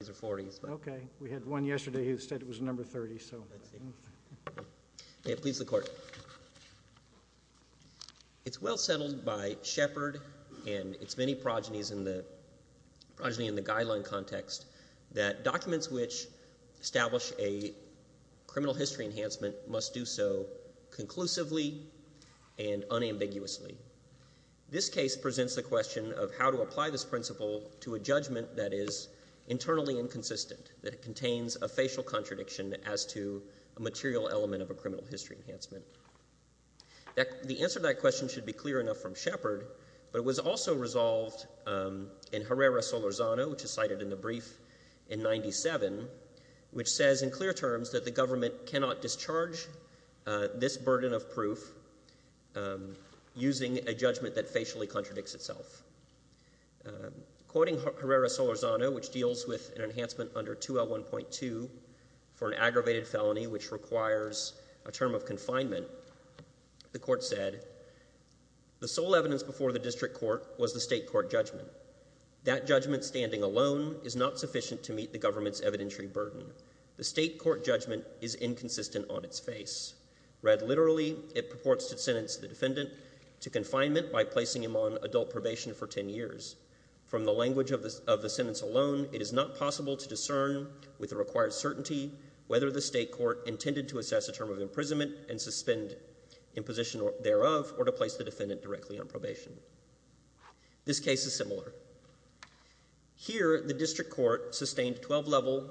It's well settled by Shepard and its many progenies in the guideline context that documents which establish a criminal history enhancement must do so conclusively and unambiguously. This case presents the question of how to apply this principle to a judgment that is internally inconsistent, that it contains a facial contradiction as to a material element of a criminal history enhancement. The answer to that question should be clear enough from Shepard, but it was also resolved in Herrera-Solorzano, which is cited in the brief in 97, which says in clear terms that the government cannot discharge this burden of proof using a judgment that facially contradicts itself. Quoting Herrera-Solorzano, which deals with an enhancement under 2L1.2 for an aggravated felony which requires a term of confinement, the court said, the sole evidence before the district court was the state court judgment. That judgment standing alone is not sufficient to meet the government's evidentiary burden. The state court judgment is inconsistent on its face. Read literally, it purports to sentence the defendant to confinement by placing him on adult probation for 10 years. From the language of the sentence alone, it is not possible to discern with the required certainty whether the state court intended to assess a term of imprisonment and suspend imposition thereof or to place the defendant directly on probation. This case is similar. Here, the district court sustained 12-level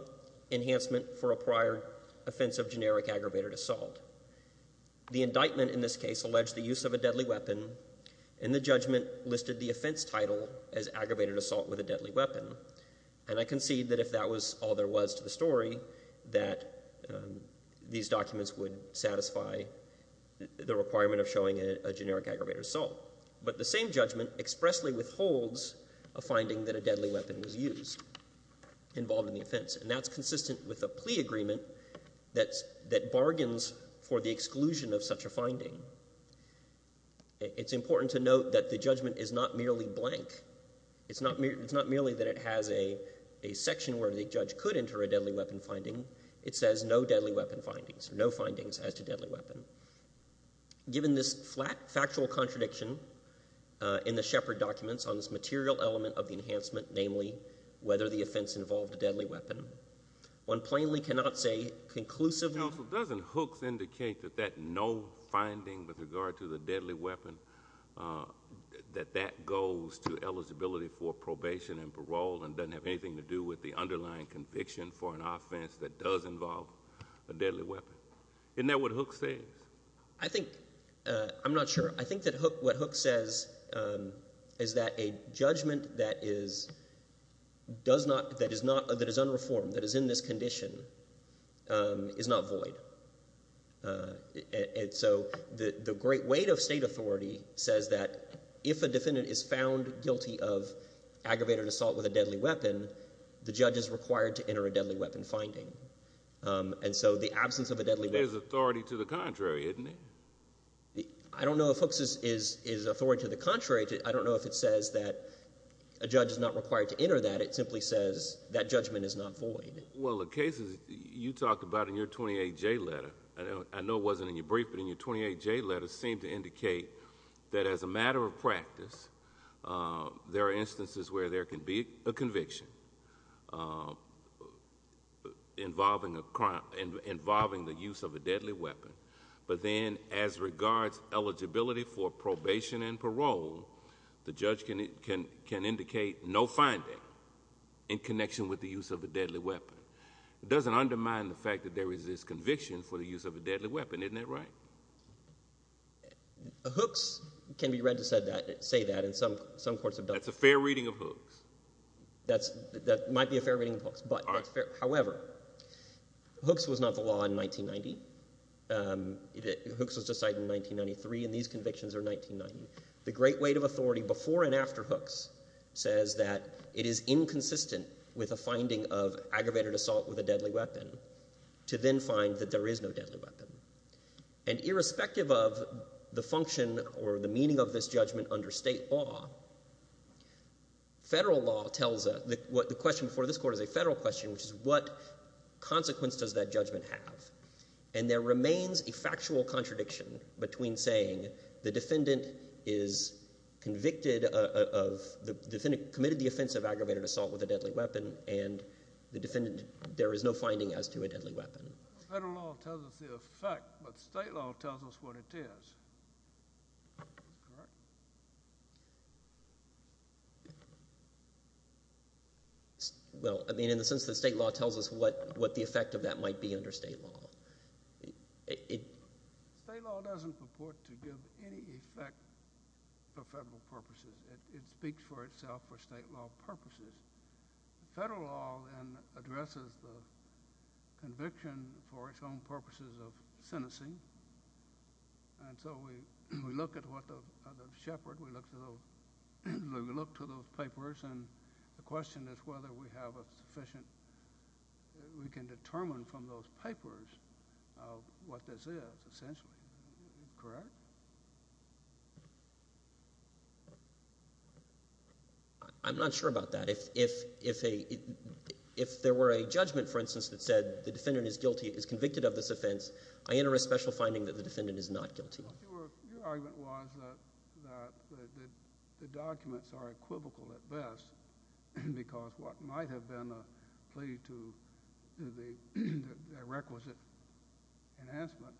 enhancement for a prior offense of generic aggravated assault. The indictment in this case alleged the use of a deadly weapon, and the judgment listed the offense title as aggravated assault with a deadly weapon. And I concede that if that was all there was to the story, that these documents would satisfy the requirement of showing a generic aggravated assault. But the same judgment expressly withholds a finding that a deadly weapon was used involved in the offense, and that's consistent with a plea agreement that bargains for the exclusion of such a finding. It's important to note that the judgment is not merely blank. It's not merely that it has a section where the judge could enter a deadly weapon finding. It says no deadly weapon findings, no findings as to deadly weapon. Given this flat factual contradiction in the Shepard documents on this material element of the enhancement, namely whether the offense involved a deadly weapon, one plainly cannot say conclusively. Counsel, doesn't Hooks indicate that that no finding with regard to the deadly weapon, that that goes to eligibility for probation and parole and doesn't have anything to do with the underlying conviction for an offense that does involve a deadly weapon? Isn't that what Hooks says? I'm not sure. I think that what Hooks says is that a judgment that is unreformed, that is in this condition, is not void. And so the great weight of state authority says that if a defendant is found guilty of aggravated assault with a deadly weapon, the judge is required to enter a deadly weapon finding. And so the absence of a deadly weapon— There's authority to the contrary, isn't there? I don't know if Hooks is authority to the contrary. I don't know if it says that a judge is not required to enter that. It simply says that judgment is not void. Well, the cases you talked about in your 28J letter, I know it wasn't in your brief, but in your 28J letter seemed to indicate that as a matter of practice, there are instances where there can be a conviction. Involving a crime—involving the use of a deadly weapon. But then as regards eligibility for probation and parole, the judge can indicate no finding in connection with the use of a deadly weapon. It doesn't undermine the fact that there is this conviction for the use of a deadly weapon. Isn't that right? Hooks can be read to say that in some courts. That's a fair reading of Hooks. That might be a fair reading of Hooks. However, Hooks was not the law in 1990. Hooks was decided in 1993, and these convictions are 1990. The great weight of authority before and after Hooks says that it is inconsistent with a finding of aggravated assault with a deadly weapon to then find that there is no deadly weapon. And irrespective of the function or the meaning of this judgment under state law, federal law tells us—the question before this court is a federal question, which is what consequence does that judgment have? And there remains a factual contradiction between saying the defendant is convicted of—committed the offense of aggravated assault with a deadly weapon and the defendant—there is no finding as to a deadly weapon. Federal law tells us the effect, but state law tells us what it is. That's correct. Well, I mean in the sense that state law tells us what the effect of that might be under state law. State law doesn't purport to give any effect for federal purposes. It speaks for itself for state law purposes. Federal law then addresses the conviction for its own purposes of sentencing, and so we look at what the Shepherd—we look to those papers, and the question is whether we have a sufficient—we can determine from those papers what this is essentially. Correct? I'm not sure about that. If there were a judgment, for instance, that said the defendant is guilty, is convicted of this offense, I enter a special finding that the defendant is not guilty. Your argument was that the documents are equivocal at best because what might have been a plea to the requisite enhancement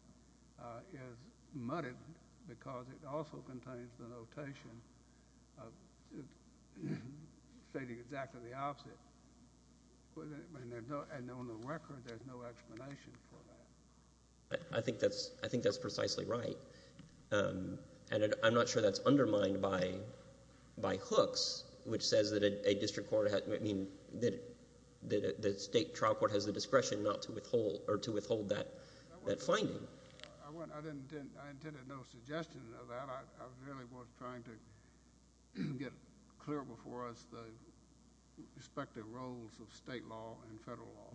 is muddied because it also contains the notation stating exactly the opposite, and on the record there's no explanation for that. I think that's precisely right, and I'm not sure that's undermined by Hooks, which says that a district court—I mean that the state trial court has the discretion not to withhold that finding. I intended no suggestion of that. I really was trying to get clear before us the respective roles of state law and federal law.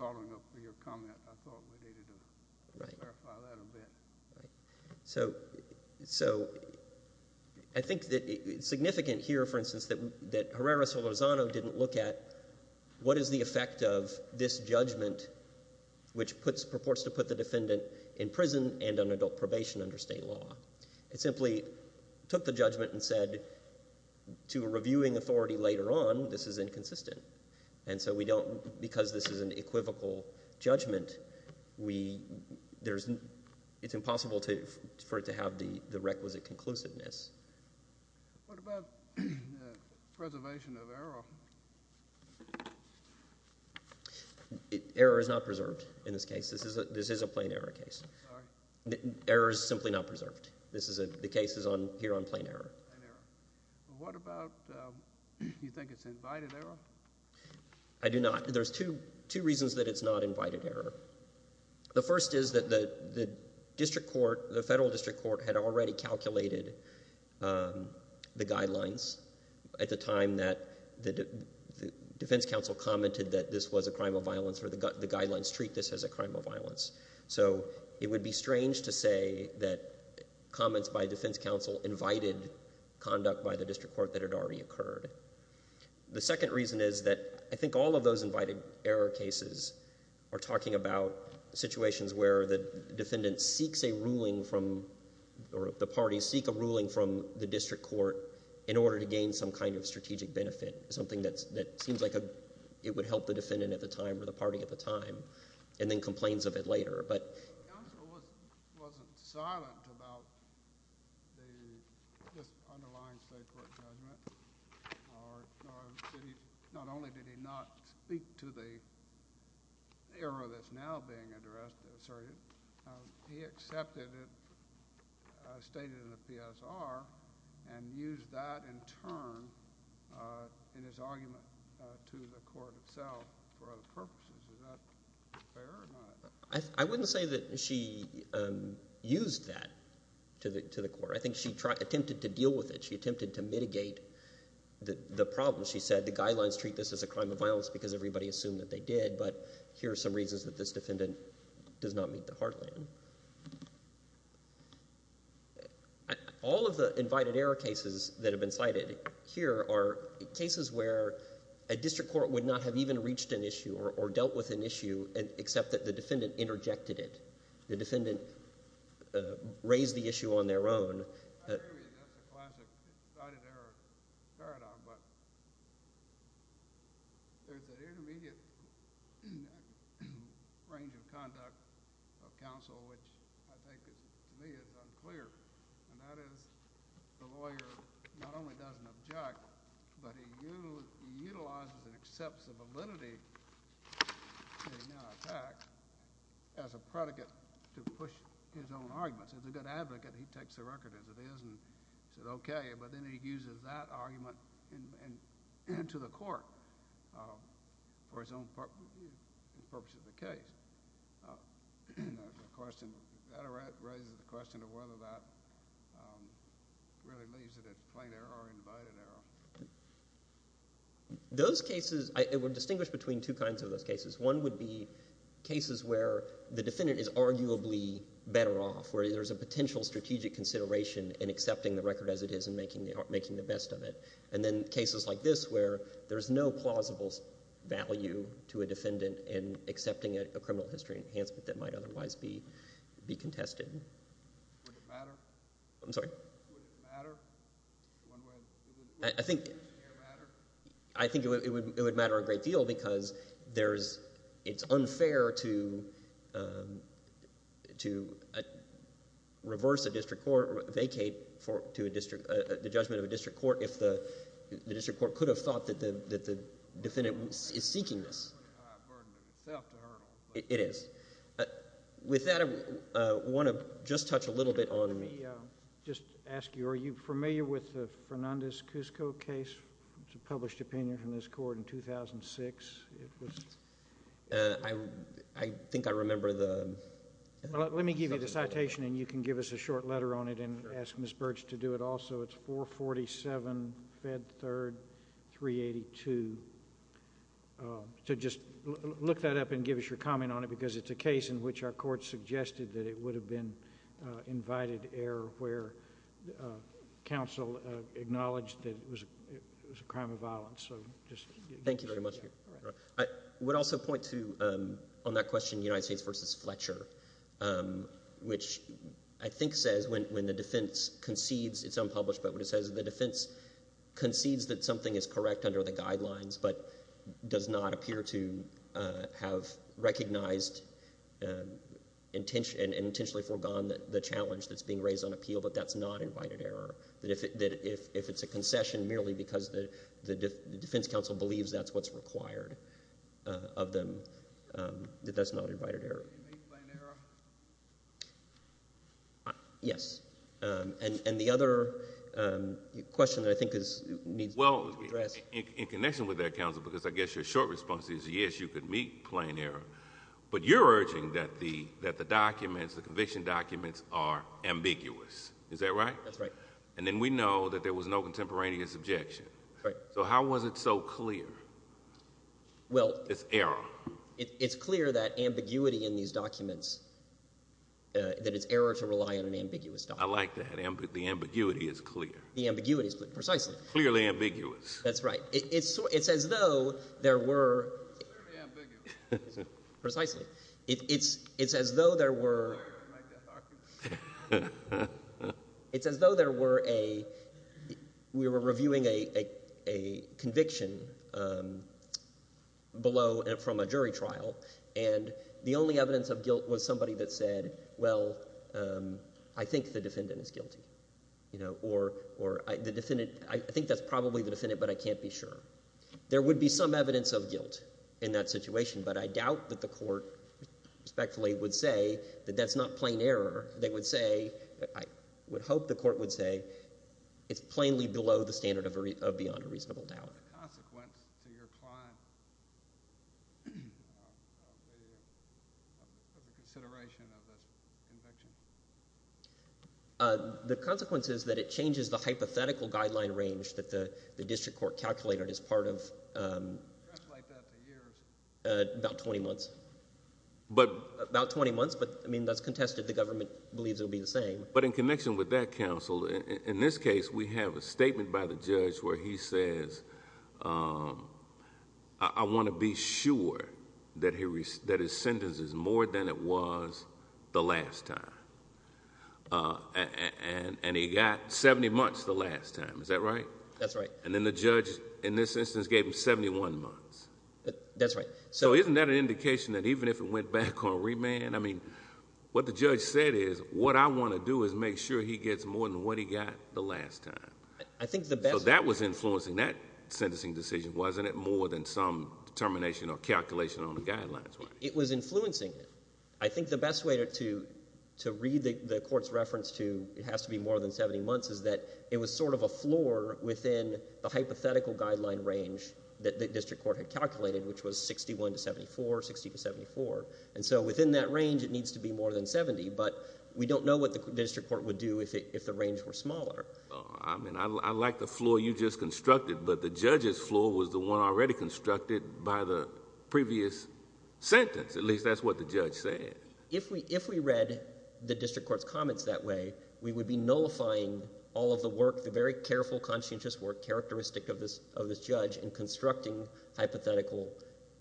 Following up with your comment, I thought we needed to clarify that a bit. So I think that it's significant here, for instance, that Herrera-Solozano didn't look at what is the effect of this judgment, which purports to put the defendant in prison and on adult probation under state law. It simply took the judgment and said to a reviewing authority later on, this is inconsistent, and so because this is an equivocal judgment, it's impossible for it to have the requisite conclusiveness. What about preservation of error? Error is not preserved in this case. This is a plain error case. Sorry. Error is simply not preserved. The case is here on plain error. What about—do you think it's invited error? I do not. There's two reasons that it's not invited error. The first is that the district court, the federal district court, had already calculated the guidelines at the time that the defense counsel commented that this was a crime of violence or the guidelines treat this as a crime of violence. So it would be strange to say that comments by defense counsel invited conduct by the district court that had already occurred. The second reason is that I think all of those invited error cases are talking about situations where the defendant seeks a ruling from—or the parties seek a ruling from the district court in order to gain some kind of strategic benefit, something that seems like it would help the defendant at the time or the party at the time, and then complains of it later. The counsel wasn't silent about this underlying state court judgment. Not only did he not speak to the error that's now being addressed, he accepted it, stated it in the PSR, and used that in turn in his argument to the court itself for other purposes. Is that fair or not? I wouldn't say that she used that to the court. I think she attempted to deal with it. She attempted to mitigate the problem. She said the guidelines treat this as a crime of violence because everybody assumed that they did, but here are some reasons that this defendant does not meet the heartland. All of the invited error cases that have been cited here are cases where a district court would not have even reached an issue or dealt with an issue except that the defendant interjected it. The defendant raised the issue on their own. I agree with you. That's a classic invited error paradigm, but there's an intermediate range of conduct of counsel which I think to me is unclear, and that is the lawyer not only doesn't object, but he utilizes and accepts the validity of the attack as a predicate to push his own arguments. As a good advocate, he takes the record as it is and says okay, but then he uses that argument to the court for his own purposes of the case. That raises the question of whether that really leaves it as plain error or invited error. Those cases were distinguished between two kinds of those cases. One would be cases where the defendant is arguably better off, where there's a potential strategic consideration in accepting the record as it is and making the best of it, and then cases like this where there's no plausible value to a defendant in accepting a criminal history enhancement that might otherwise be contested. Would it matter? I'm sorry? Would it matter? I think it would matter a great deal because it's unfair to reverse a district court, vacate the judgment of a district court if the district court could have thought that the defendant is seeking this. It's a pretty high burden of itself to hurdle. It is. With that, I want to just touch a little bit on the— I think I remember the— Let me give you the citation and you can give us a short letter on it and ask Ms. Birch to do it also. It's 447 Fed 3rd 382. Just look that up and give us your comment on it because it's a case in which our court suggested that it would have been invited error where counsel acknowledged that it was a crime of violence. Thank you very much. I would also point to, on that question, United States v. Fletcher, which I think says when the defense concedes, it's unpublished, but what it says is the defense concedes that something is correct under the guidelines but does not appear to have recognized and intentionally foregone the challenge that's being raised on appeal, but that's not invited error. That if it's a concession merely because the defense counsel believes that's what's required of them, that that's not invited error. Meet plain error? Yes. And the other question that I think needs to be addressed— Well, in connection with that, counsel, because I guess your short response is yes, you could meet plain error, but you're urging that the documents, the conviction documents, are ambiguous. Is that right? That's right. And then we know that there was no contemporaneous objection. Right. So how was it so clear? Well— It's error. It's clear that ambiguity in these documents, that it's error to rely on an ambiguous document. I like that. The ambiguity is clear. The ambiguity is clear. Precisely. Clearly ambiguous. That's right. It's as though there were— Clearly ambiguous. Precisely. It's as though there were— I like that argument. It's as though there were a—we were reviewing a conviction below from a jury trial, and the only evidence of guilt was somebody that said, well, I think the defendant is guilty, or the defendant—I think that's probably the defendant, but I can't be sure. There would be some evidence of guilt in that situation, but I doubt that the court respectfully would say that that's not plain error. They would say—I would hope the court would say it's plainly below the standard of beyond a reasonable doubt. What's the consequence to your client of the consideration of this conviction? The consequence is that it changes the hypothetical guideline range that the district court calculated as part of— About 20 months. About 20 months, but, I mean, that's contested. The government believes it will be the same. But in connection with that, counsel, in this case we have a statement by the judge where he says, I want to be sure that his sentence is more than it was the last time, and he got 70 months the last time. Is that right? That's right. And then the judge, in this instance, gave him 71 months. That's right. So isn't that an indication that even if it went back on remand, I mean, what the judge said is, what I want to do is make sure he gets more than what he got the last time. I think the best— So that was influencing that sentencing decision, wasn't it, more than some determination or calculation on the guidelines? It was influencing it. I think the best way to read the court's reference to it has to be more than 70 months is that it was sort of a floor within the hypothetical guideline range that the district court had calculated, which was 61 to 74, 60 to 74. And so within that range, it needs to be more than 70, but we don't know what the district court would do if the range were smaller. I mean, I like the floor you just constructed, but the judge's floor was the one already constructed by the previous sentence. At least that's what the judge said. If we read the district court's comments that way, we would be nullifying all of the work, the very careful conscientious work characteristic of this judge in constructing hypothetical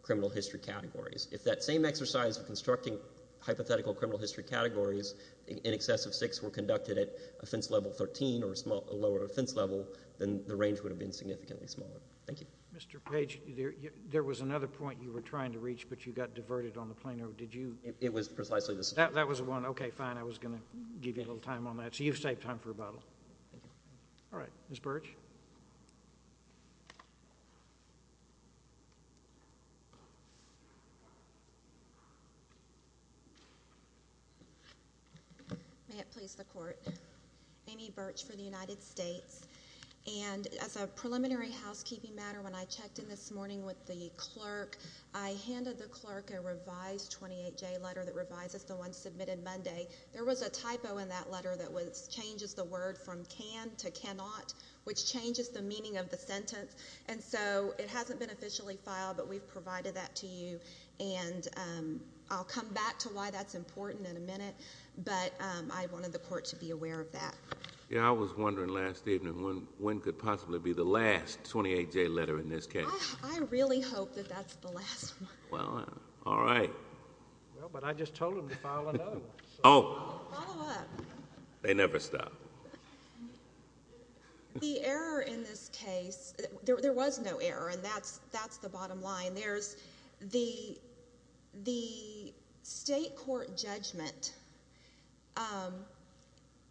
criminal history categories. If that same exercise of constructing hypothetical criminal history categories in excess of six were conducted at offense level 13 or a lower offense level, then the range would have been significantly smaller. Thank you. Mr. Page, there was another point you were trying to reach, but you got diverted on the plaintiff. Did you— It was precisely this. That was the one. Okay, fine. I was going to give you a little time on that. So you've saved time for rebuttal. Thank you. All right. Ms. Birch? May it please the Court. Amy Birch for the United States. And as a preliminary housekeeping matter, when I checked in this morning with the clerk, I handed the clerk a revised 28J letter that revises the one submitted Monday. There was a typo in that letter that changes the word from can to cannot, which changes the meaning of the sentence. And so it hasn't been officially filed, but we've provided that to you. And I'll come back to why that's important in a minute. But I wanted the Court to be aware of that. Yeah, I was wondering last evening when could possibly be the last 28J letter in this case. I really hope that that's the last one. Well, all right. Well, but I just told them to file another one. Oh. Follow up. They never stop. The error in this case, there was no error, and that's the bottom line. The state court judgment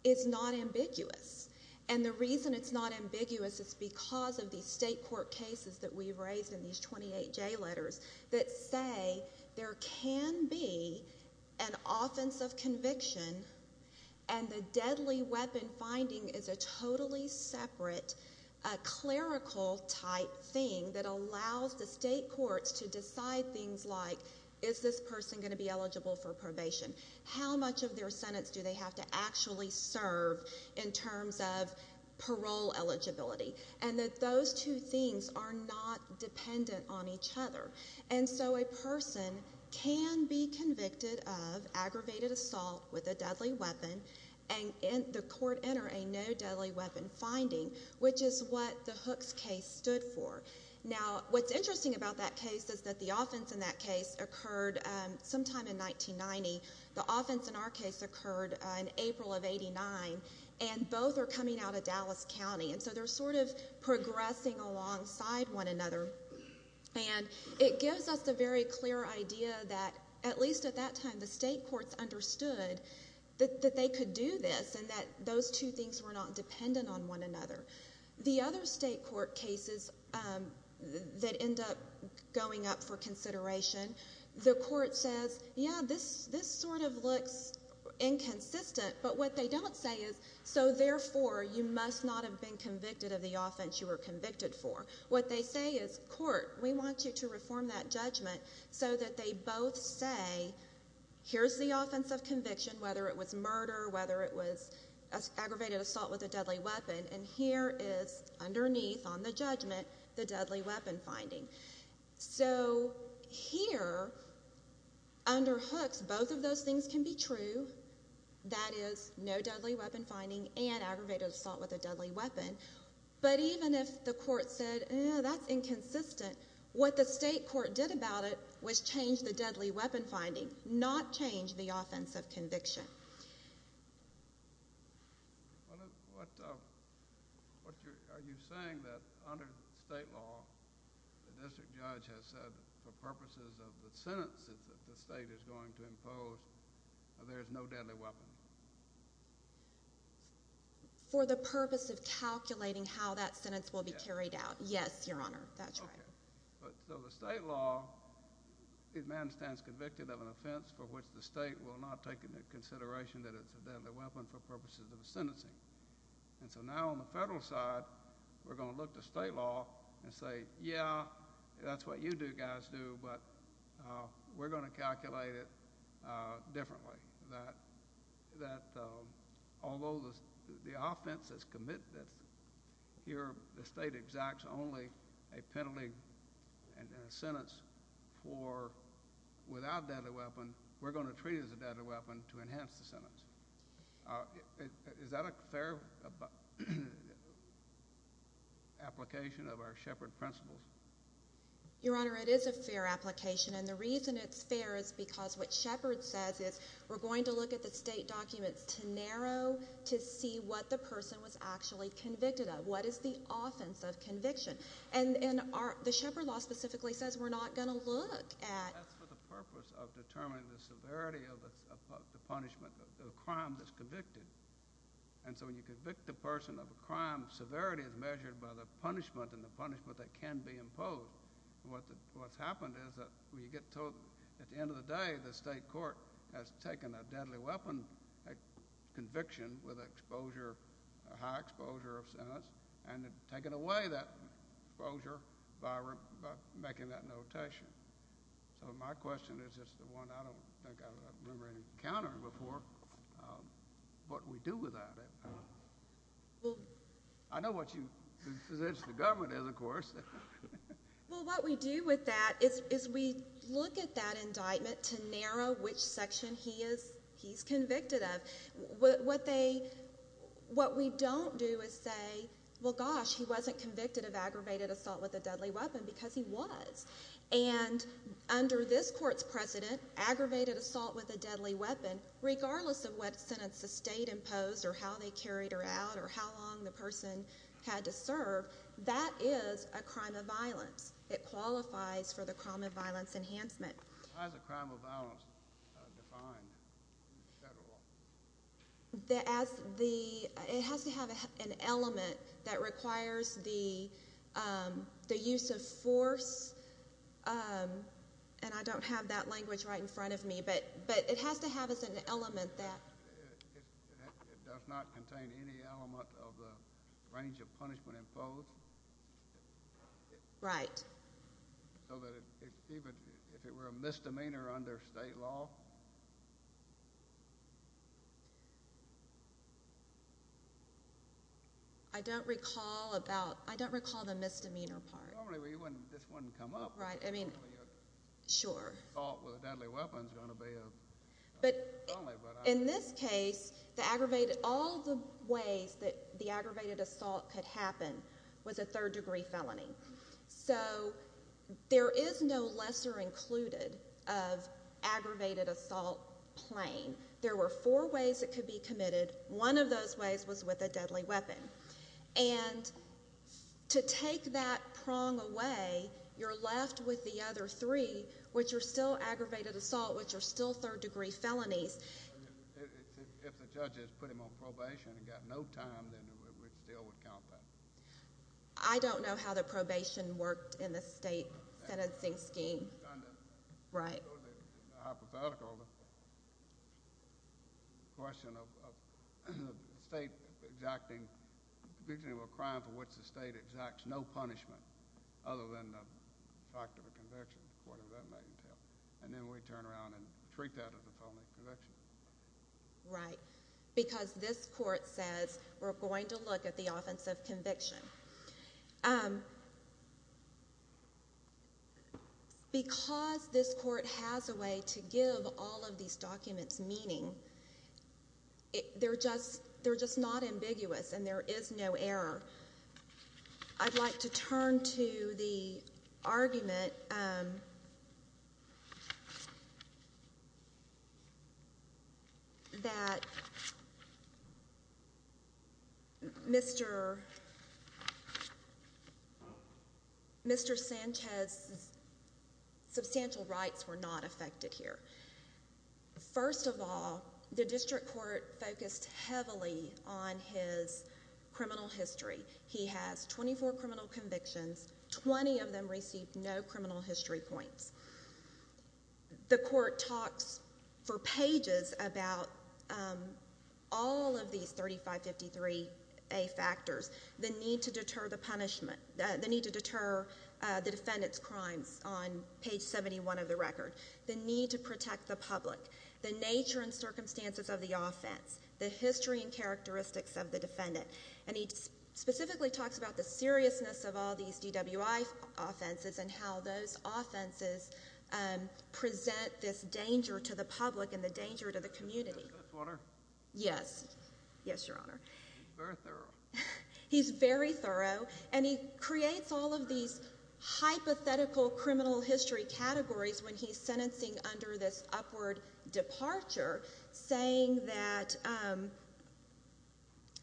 is not ambiguous. And the reason it's not ambiguous is because of the state court cases that we've raised in these 28J letters that say there can be an offense of conviction and the deadly weapon finding is a totally separate clerical-type thing that allows the state courts to decide things like, is this person going to be eligible for probation? How much of their sentence do they have to actually serve in terms of parole eligibility? And that those two things are not dependent on each other. And so a person can be convicted of aggravated assault with a deadly weapon and the court enter a no deadly weapon finding, which is what the Hooks case stood for. Now, what's interesting about that case is that the offense in that case occurred sometime in 1990. The offense in our case occurred in April of 89, and both are coming out of Dallas County. And so they're sort of progressing alongside one another. And it gives us a very clear idea that, at least at that time, the state courts understood that they could do this and that those two things were not dependent on one another. The other state court cases that end up going up for consideration, the court says, yeah, this sort of looks inconsistent, but what they don't say is, so therefore you must not have been convicted of the offense you were convicted for. What they say is, court, we want you to reform that judgment so that they both say, here's the offense of conviction, whether it was murder, whether it was aggravated assault with a deadly weapon, and here is underneath on the judgment the deadly weapon finding. So here, under Hooks, both of those things can be true. That is, no deadly weapon finding and aggravated assault with a deadly weapon. But even if the court said, eh, that's inconsistent, what the state court did about it was change the deadly weapon finding, not change the offense of conviction. Are you saying that under state law, the district judge has said for purposes of the sentences that the state is going to impose, there is no deadly weapon? For the purpose of calculating how that sentence will be carried out, yes, Your Honor, that's right. So the state law, a man stands convicted of an offense for which the state will not take into consideration that it's a deadly weapon for purposes of sentencing. And so now on the federal side, we're going to look to state law and say, yeah, that's what you guys do, but we're going to calculate it differently, that although the offense is committed here, the state exacts only a penalty and a sentence for without deadly weapon, we're going to treat it as a deadly weapon to enhance the sentence. Is that a fair application of our Shepard principles? Your Honor, it is a fair application, and the reason it's fair is because what Shepard says is we're going to look at the state documents to narrow to see what the person was actually convicted of, what is the offense of conviction. And the Shepard law specifically says we're not going to look at— That's for the purpose of determining the severity of the punishment, the crime that's convicted. And severity is measured by the punishment and the punishment that can be imposed. What's happened is that we get told at the end of the day the state court has taken a deadly weapon conviction with a high exposure of sentence and taken away that exposure by making that notation. So my question is just the one I don't think I've ever encountered before, what do we do with that? I know what you—the position of the government is, of course. Well, what we do with that is we look at that indictment to narrow which section he is convicted of. What we don't do is say, well, gosh, he wasn't convicted of aggravated assault with a deadly weapon because he was. And under this court's precedent, aggravated assault with a deadly weapon, regardless of what sentence the state imposed or how they carried her out or how long the person had to serve, that is a crime of violence. It qualifies for the crime of violence enhancement. How is a crime of violence defined in the federal law? As the—it has to have an element that requires the use of force. And I don't have that language right in front of me, but it has to have an element that— It does not contain any element of the range of punishment imposed? Right. So that even if it were a misdemeanor under state law? I don't recall about—I don't recall the misdemeanor part. Normally this wouldn't come up. Right, I mean—sure. Assault with a deadly weapon is going to be a felony. But in this case, the aggravated—all the ways that the aggravated assault could happen was a third-degree felony. So there is no lesser included of aggravated assault plain. There were four ways it could be committed. One of those ways was with a deadly weapon. And to take that prong away, you're left with the other three, which are still aggravated assault, which are still third-degree felonies. If the judges put him on probation and got no time, then it still would count that. I don't know how the probation worked in the state sentencing scheme. Right. Hypothetically, the question of the state exacting— the conviction of a crime for which the state exacts no punishment other than the fact of a conviction, whatever that might entail, and then we turn around and treat that as a felony conviction. Right, because this Court says we're going to look at the offense of conviction. Because this Court has a way to give all of these documents meaning, they're just not ambiguous and there is no error. I'd like to turn to the argument that Mr. Sanchez's substantial rights were not affected here. First of all, the district court focused heavily on his criminal history. He has 24 criminal convictions, 20 of them received no criminal history points. The court talks for pages about all of these 3553A factors, the need to deter the punishment, the need to deter the defendant's crimes on page 71 of the record, the need to protect the public, the nature and circumstances of the offense, the history and characteristics of the defendant. And he specifically talks about the seriousness of all these DWI offenses and how those offenses present this danger to the public and the danger to the community. Yes. Yes, Your Honor. He's very thorough. And he creates all of these hypothetical criminal history categories when he's sentencing under this upward departure, saying that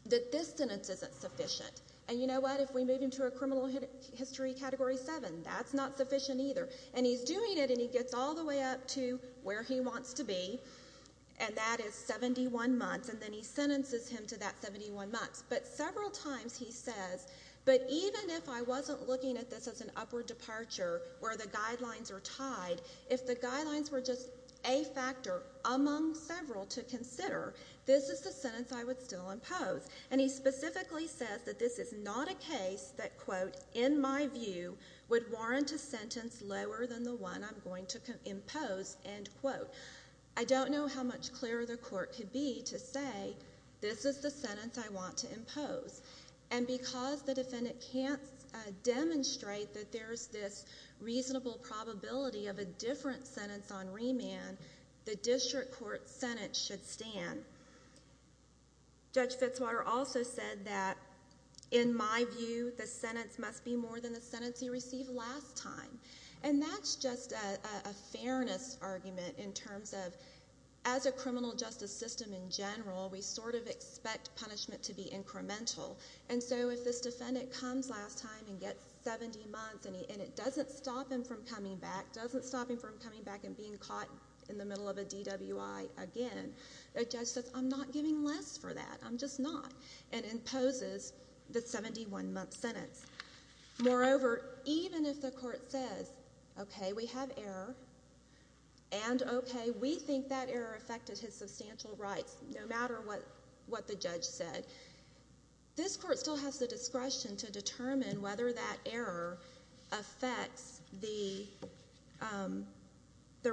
this sentence isn't sufficient. And you know what? If we move him to a criminal history category 7, that's not sufficient either. And he's doing it and he gets all the way up to where he wants to be, and that is 71 months. And then he sentences him to that 71 months. But several times he says, but even if I wasn't looking at this as an upward departure where the guidelines are tied, if the guidelines were just A factor among several to consider, this is the sentence I would still impose. And he specifically says that this is not a case that, quote, in my view would warrant a sentence lower than the one I'm going to impose, end quote. I don't know how much clearer the court could be to say this is the sentence I want to impose. And because the defendant can't demonstrate that there's this reasonable probability of a different sentence on remand, the district court sentence should stand. Judge Fitzwater also said that, in my view, the sentence must be more than the sentence he received last time. And that's just a fairness argument in terms of, as a criminal justice system in general, we sort of expect punishment to be incremental. And so if this defendant comes last time and gets 70 months and it doesn't stop him from coming back, doesn't stop him from coming back and being caught in the middle of a DWI again, a judge says, I'm not giving less for that, I'm just not, and imposes the 71-month sentence. Moreover, even if the court says, okay, we have error, and, okay, we think that error affected his substantial rights no matter what the judge said, this court still has the discretion to determine whether that error affects the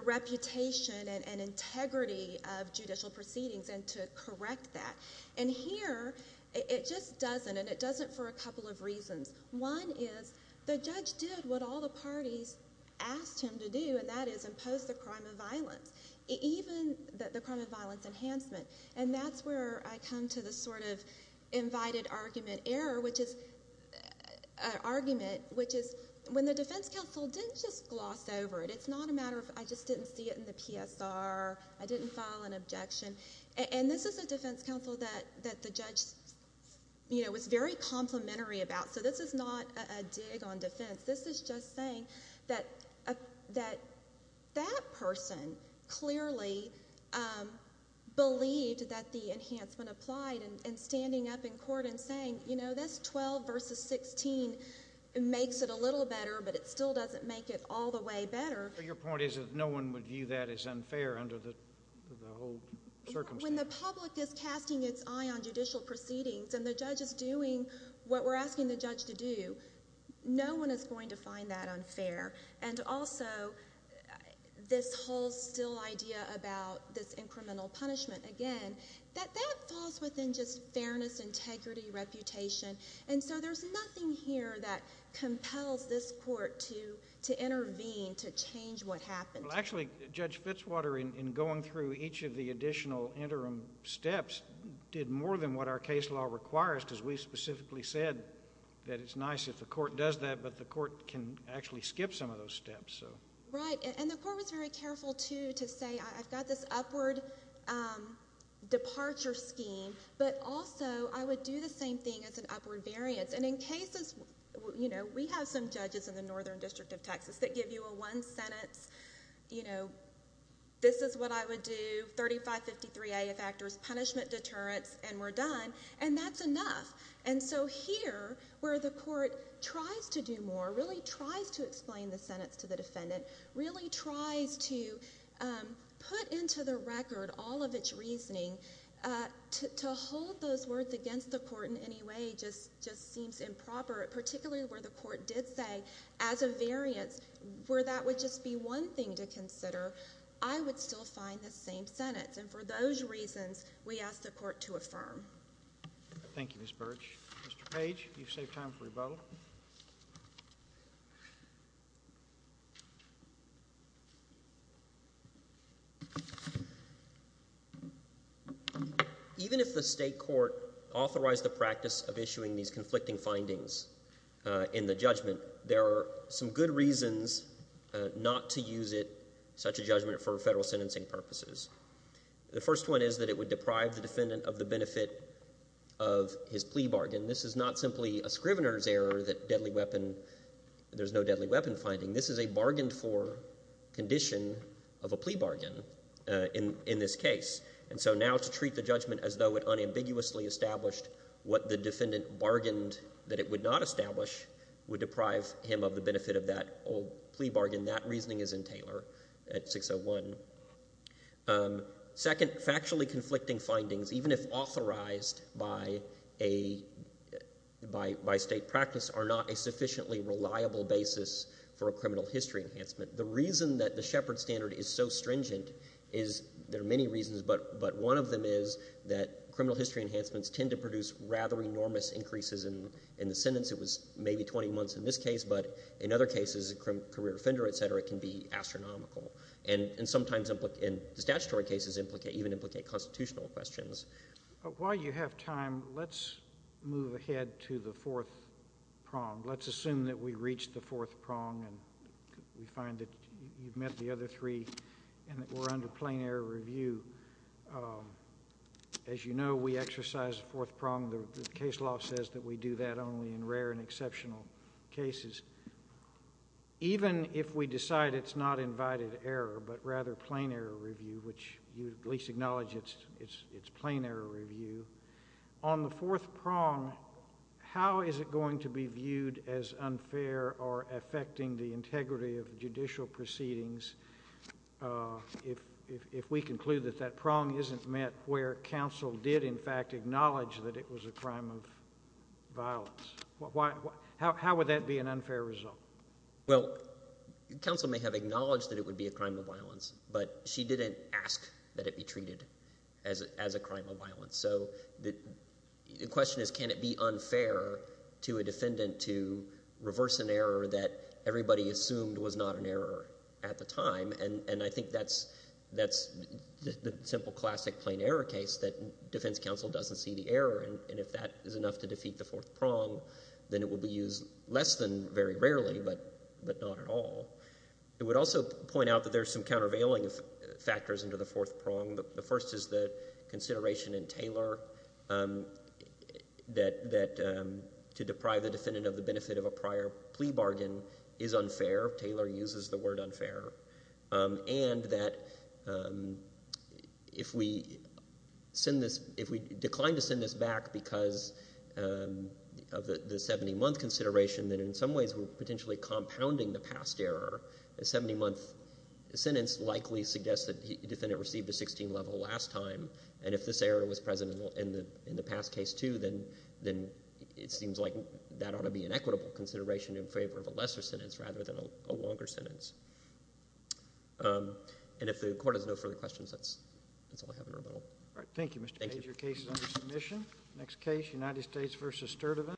reputation and integrity of judicial proceedings and to correct that. And here it just doesn't, and it doesn't for a couple of reasons. One is the judge did what all the parties asked him to do, and that is impose the crime of violence, even the crime of violence enhancement. And that's where I come to the sort of invited argument error, which is an argument, which is when the defense counsel didn't just gloss over it. It's not a matter of I just didn't see it in the PSR, I didn't file an objection. And this is a defense counsel that the judge was very complimentary about. So this is not a dig on defense. This is just saying that that person clearly believed that the enhancement applied and standing up in court and saying, you know, this 12 versus 16 makes it a little better, but it still doesn't make it all the way better. But your point is that no one would view that as unfair under the whole circumstance. When the public is casting its eye on judicial proceedings and the judge is doing what we're asking the judge to do, no one is going to find that unfair. And also this whole still idea about this incremental punishment, again, And so there's nothing here that compels this court to intervene to change what happened. Well, actually, Judge Fitzwater, in going through each of the additional interim steps, did more than what our case law requires because we specifically said that it's nice if the court does that, but the court can actually skip some of those steps. Right. And the court was very careful, too, to say I've got this upward departure scheme, but also I would do the same thing as an upward variance. And in cases, you know, we have some judges in the Northern District of Texas that give you a one-sentence, you know, this is what I would do, 3553A of factors, punishment, deterrence, and we're done, and that's enough. And so here, where the court tries to do more, really tries to explain the sentence to the defendant, really tries to put into the record all of its reasoning. To hold those words against the court in any way just seems improper, particularly where the court did say as a variance, where that would just be one thing to consider, I would still find the same sentence. And for those reasons, we ask the court to affirm. Thank you, Ms. Birch. Mr. Page, you've saved time for rebuttal. Even if the state court authorized the practice of issuing these conflicting findings in the judgment, there are some good reasons not to use it, such a judgment, for federal sentencing purposes. The first one is that it would deprive the defendant of the benefit of his plea bargain. This is not simply a scrivener's error that deadly weapon, there's no deadly weapon finding. This is a bargained-for condition of a plea bargain in this case. And so now to treat the judgment as though it unambiguously established what the defendant bargained that it would not establish would deprive him of the benefit of that old plea bargain. And that reasoning is in Taylor at 601. Second, factually conflicting findings, even if authorized by state practice, are not a sufficiently reliable basis for a criminal history enhancement. The reason that the Shepard standard is so stringent is there are many reasons, but one of them is that criminal history enhancements tend to produce rather enormous increases in the sentence. It was maybe 20 months in this case, but in other cases, a career offender, et cetera, can be astronomical, and sometimes in statutory cases even implicate constitutional questions. While you have time, let's move ahead to the fourth prong. Let's assume that we've reached the fourth prong and we find that you've met the other three and that we're under plain error review. As you know, we exercise the fourth prong. The case law says that we do that only in rare and exceptional cases. Even if we decide it's not invited error but rather plain error review, which you at least acknowledge it's plain error review, on the fourth prong, how is it going to be viewed as unfair or affecting the integrity of judicial proceedings if we conclude that that prong isn't met where counsel did in fact acknowledge that it was a crime of violence? How would that be an unfair result? Well, counsel may have acknowledged that it would be a crime of violence, but she didn't ask that it be treated as a crime of violence. The question is can it be unfair to a defendant to reverse an error that everybody assumed was not an error at the time, and I think that's the simple classic plain error case that defense counsel doesn't see the error, and if that is enough to defeat the fourth prong, then it will be used less than very rarely but not at all. It would also point out that there's some countervailing factors into the fourth prong. The first is the consideration in Taylor that to deprive the defendant of the benefit of a prior plea bargain is unfair. Taylor uses the word unfair, and that if we decline to send this back because of the 70-month consideration, then in some ways we're potentially compounding the past error. A 70-month sentence likely suggests that the defendant received a 16-level last time, and if this error was present in the past case too, then it seems like that ought to be an equitable consideration in favor of a lesser sentence rather than a longer sentence. And if the Court has no further questions, that's all I have in rebuttal. All right. Thank you, Mr. Page. Your case is under submission. Next case, United States v. Sturtevant.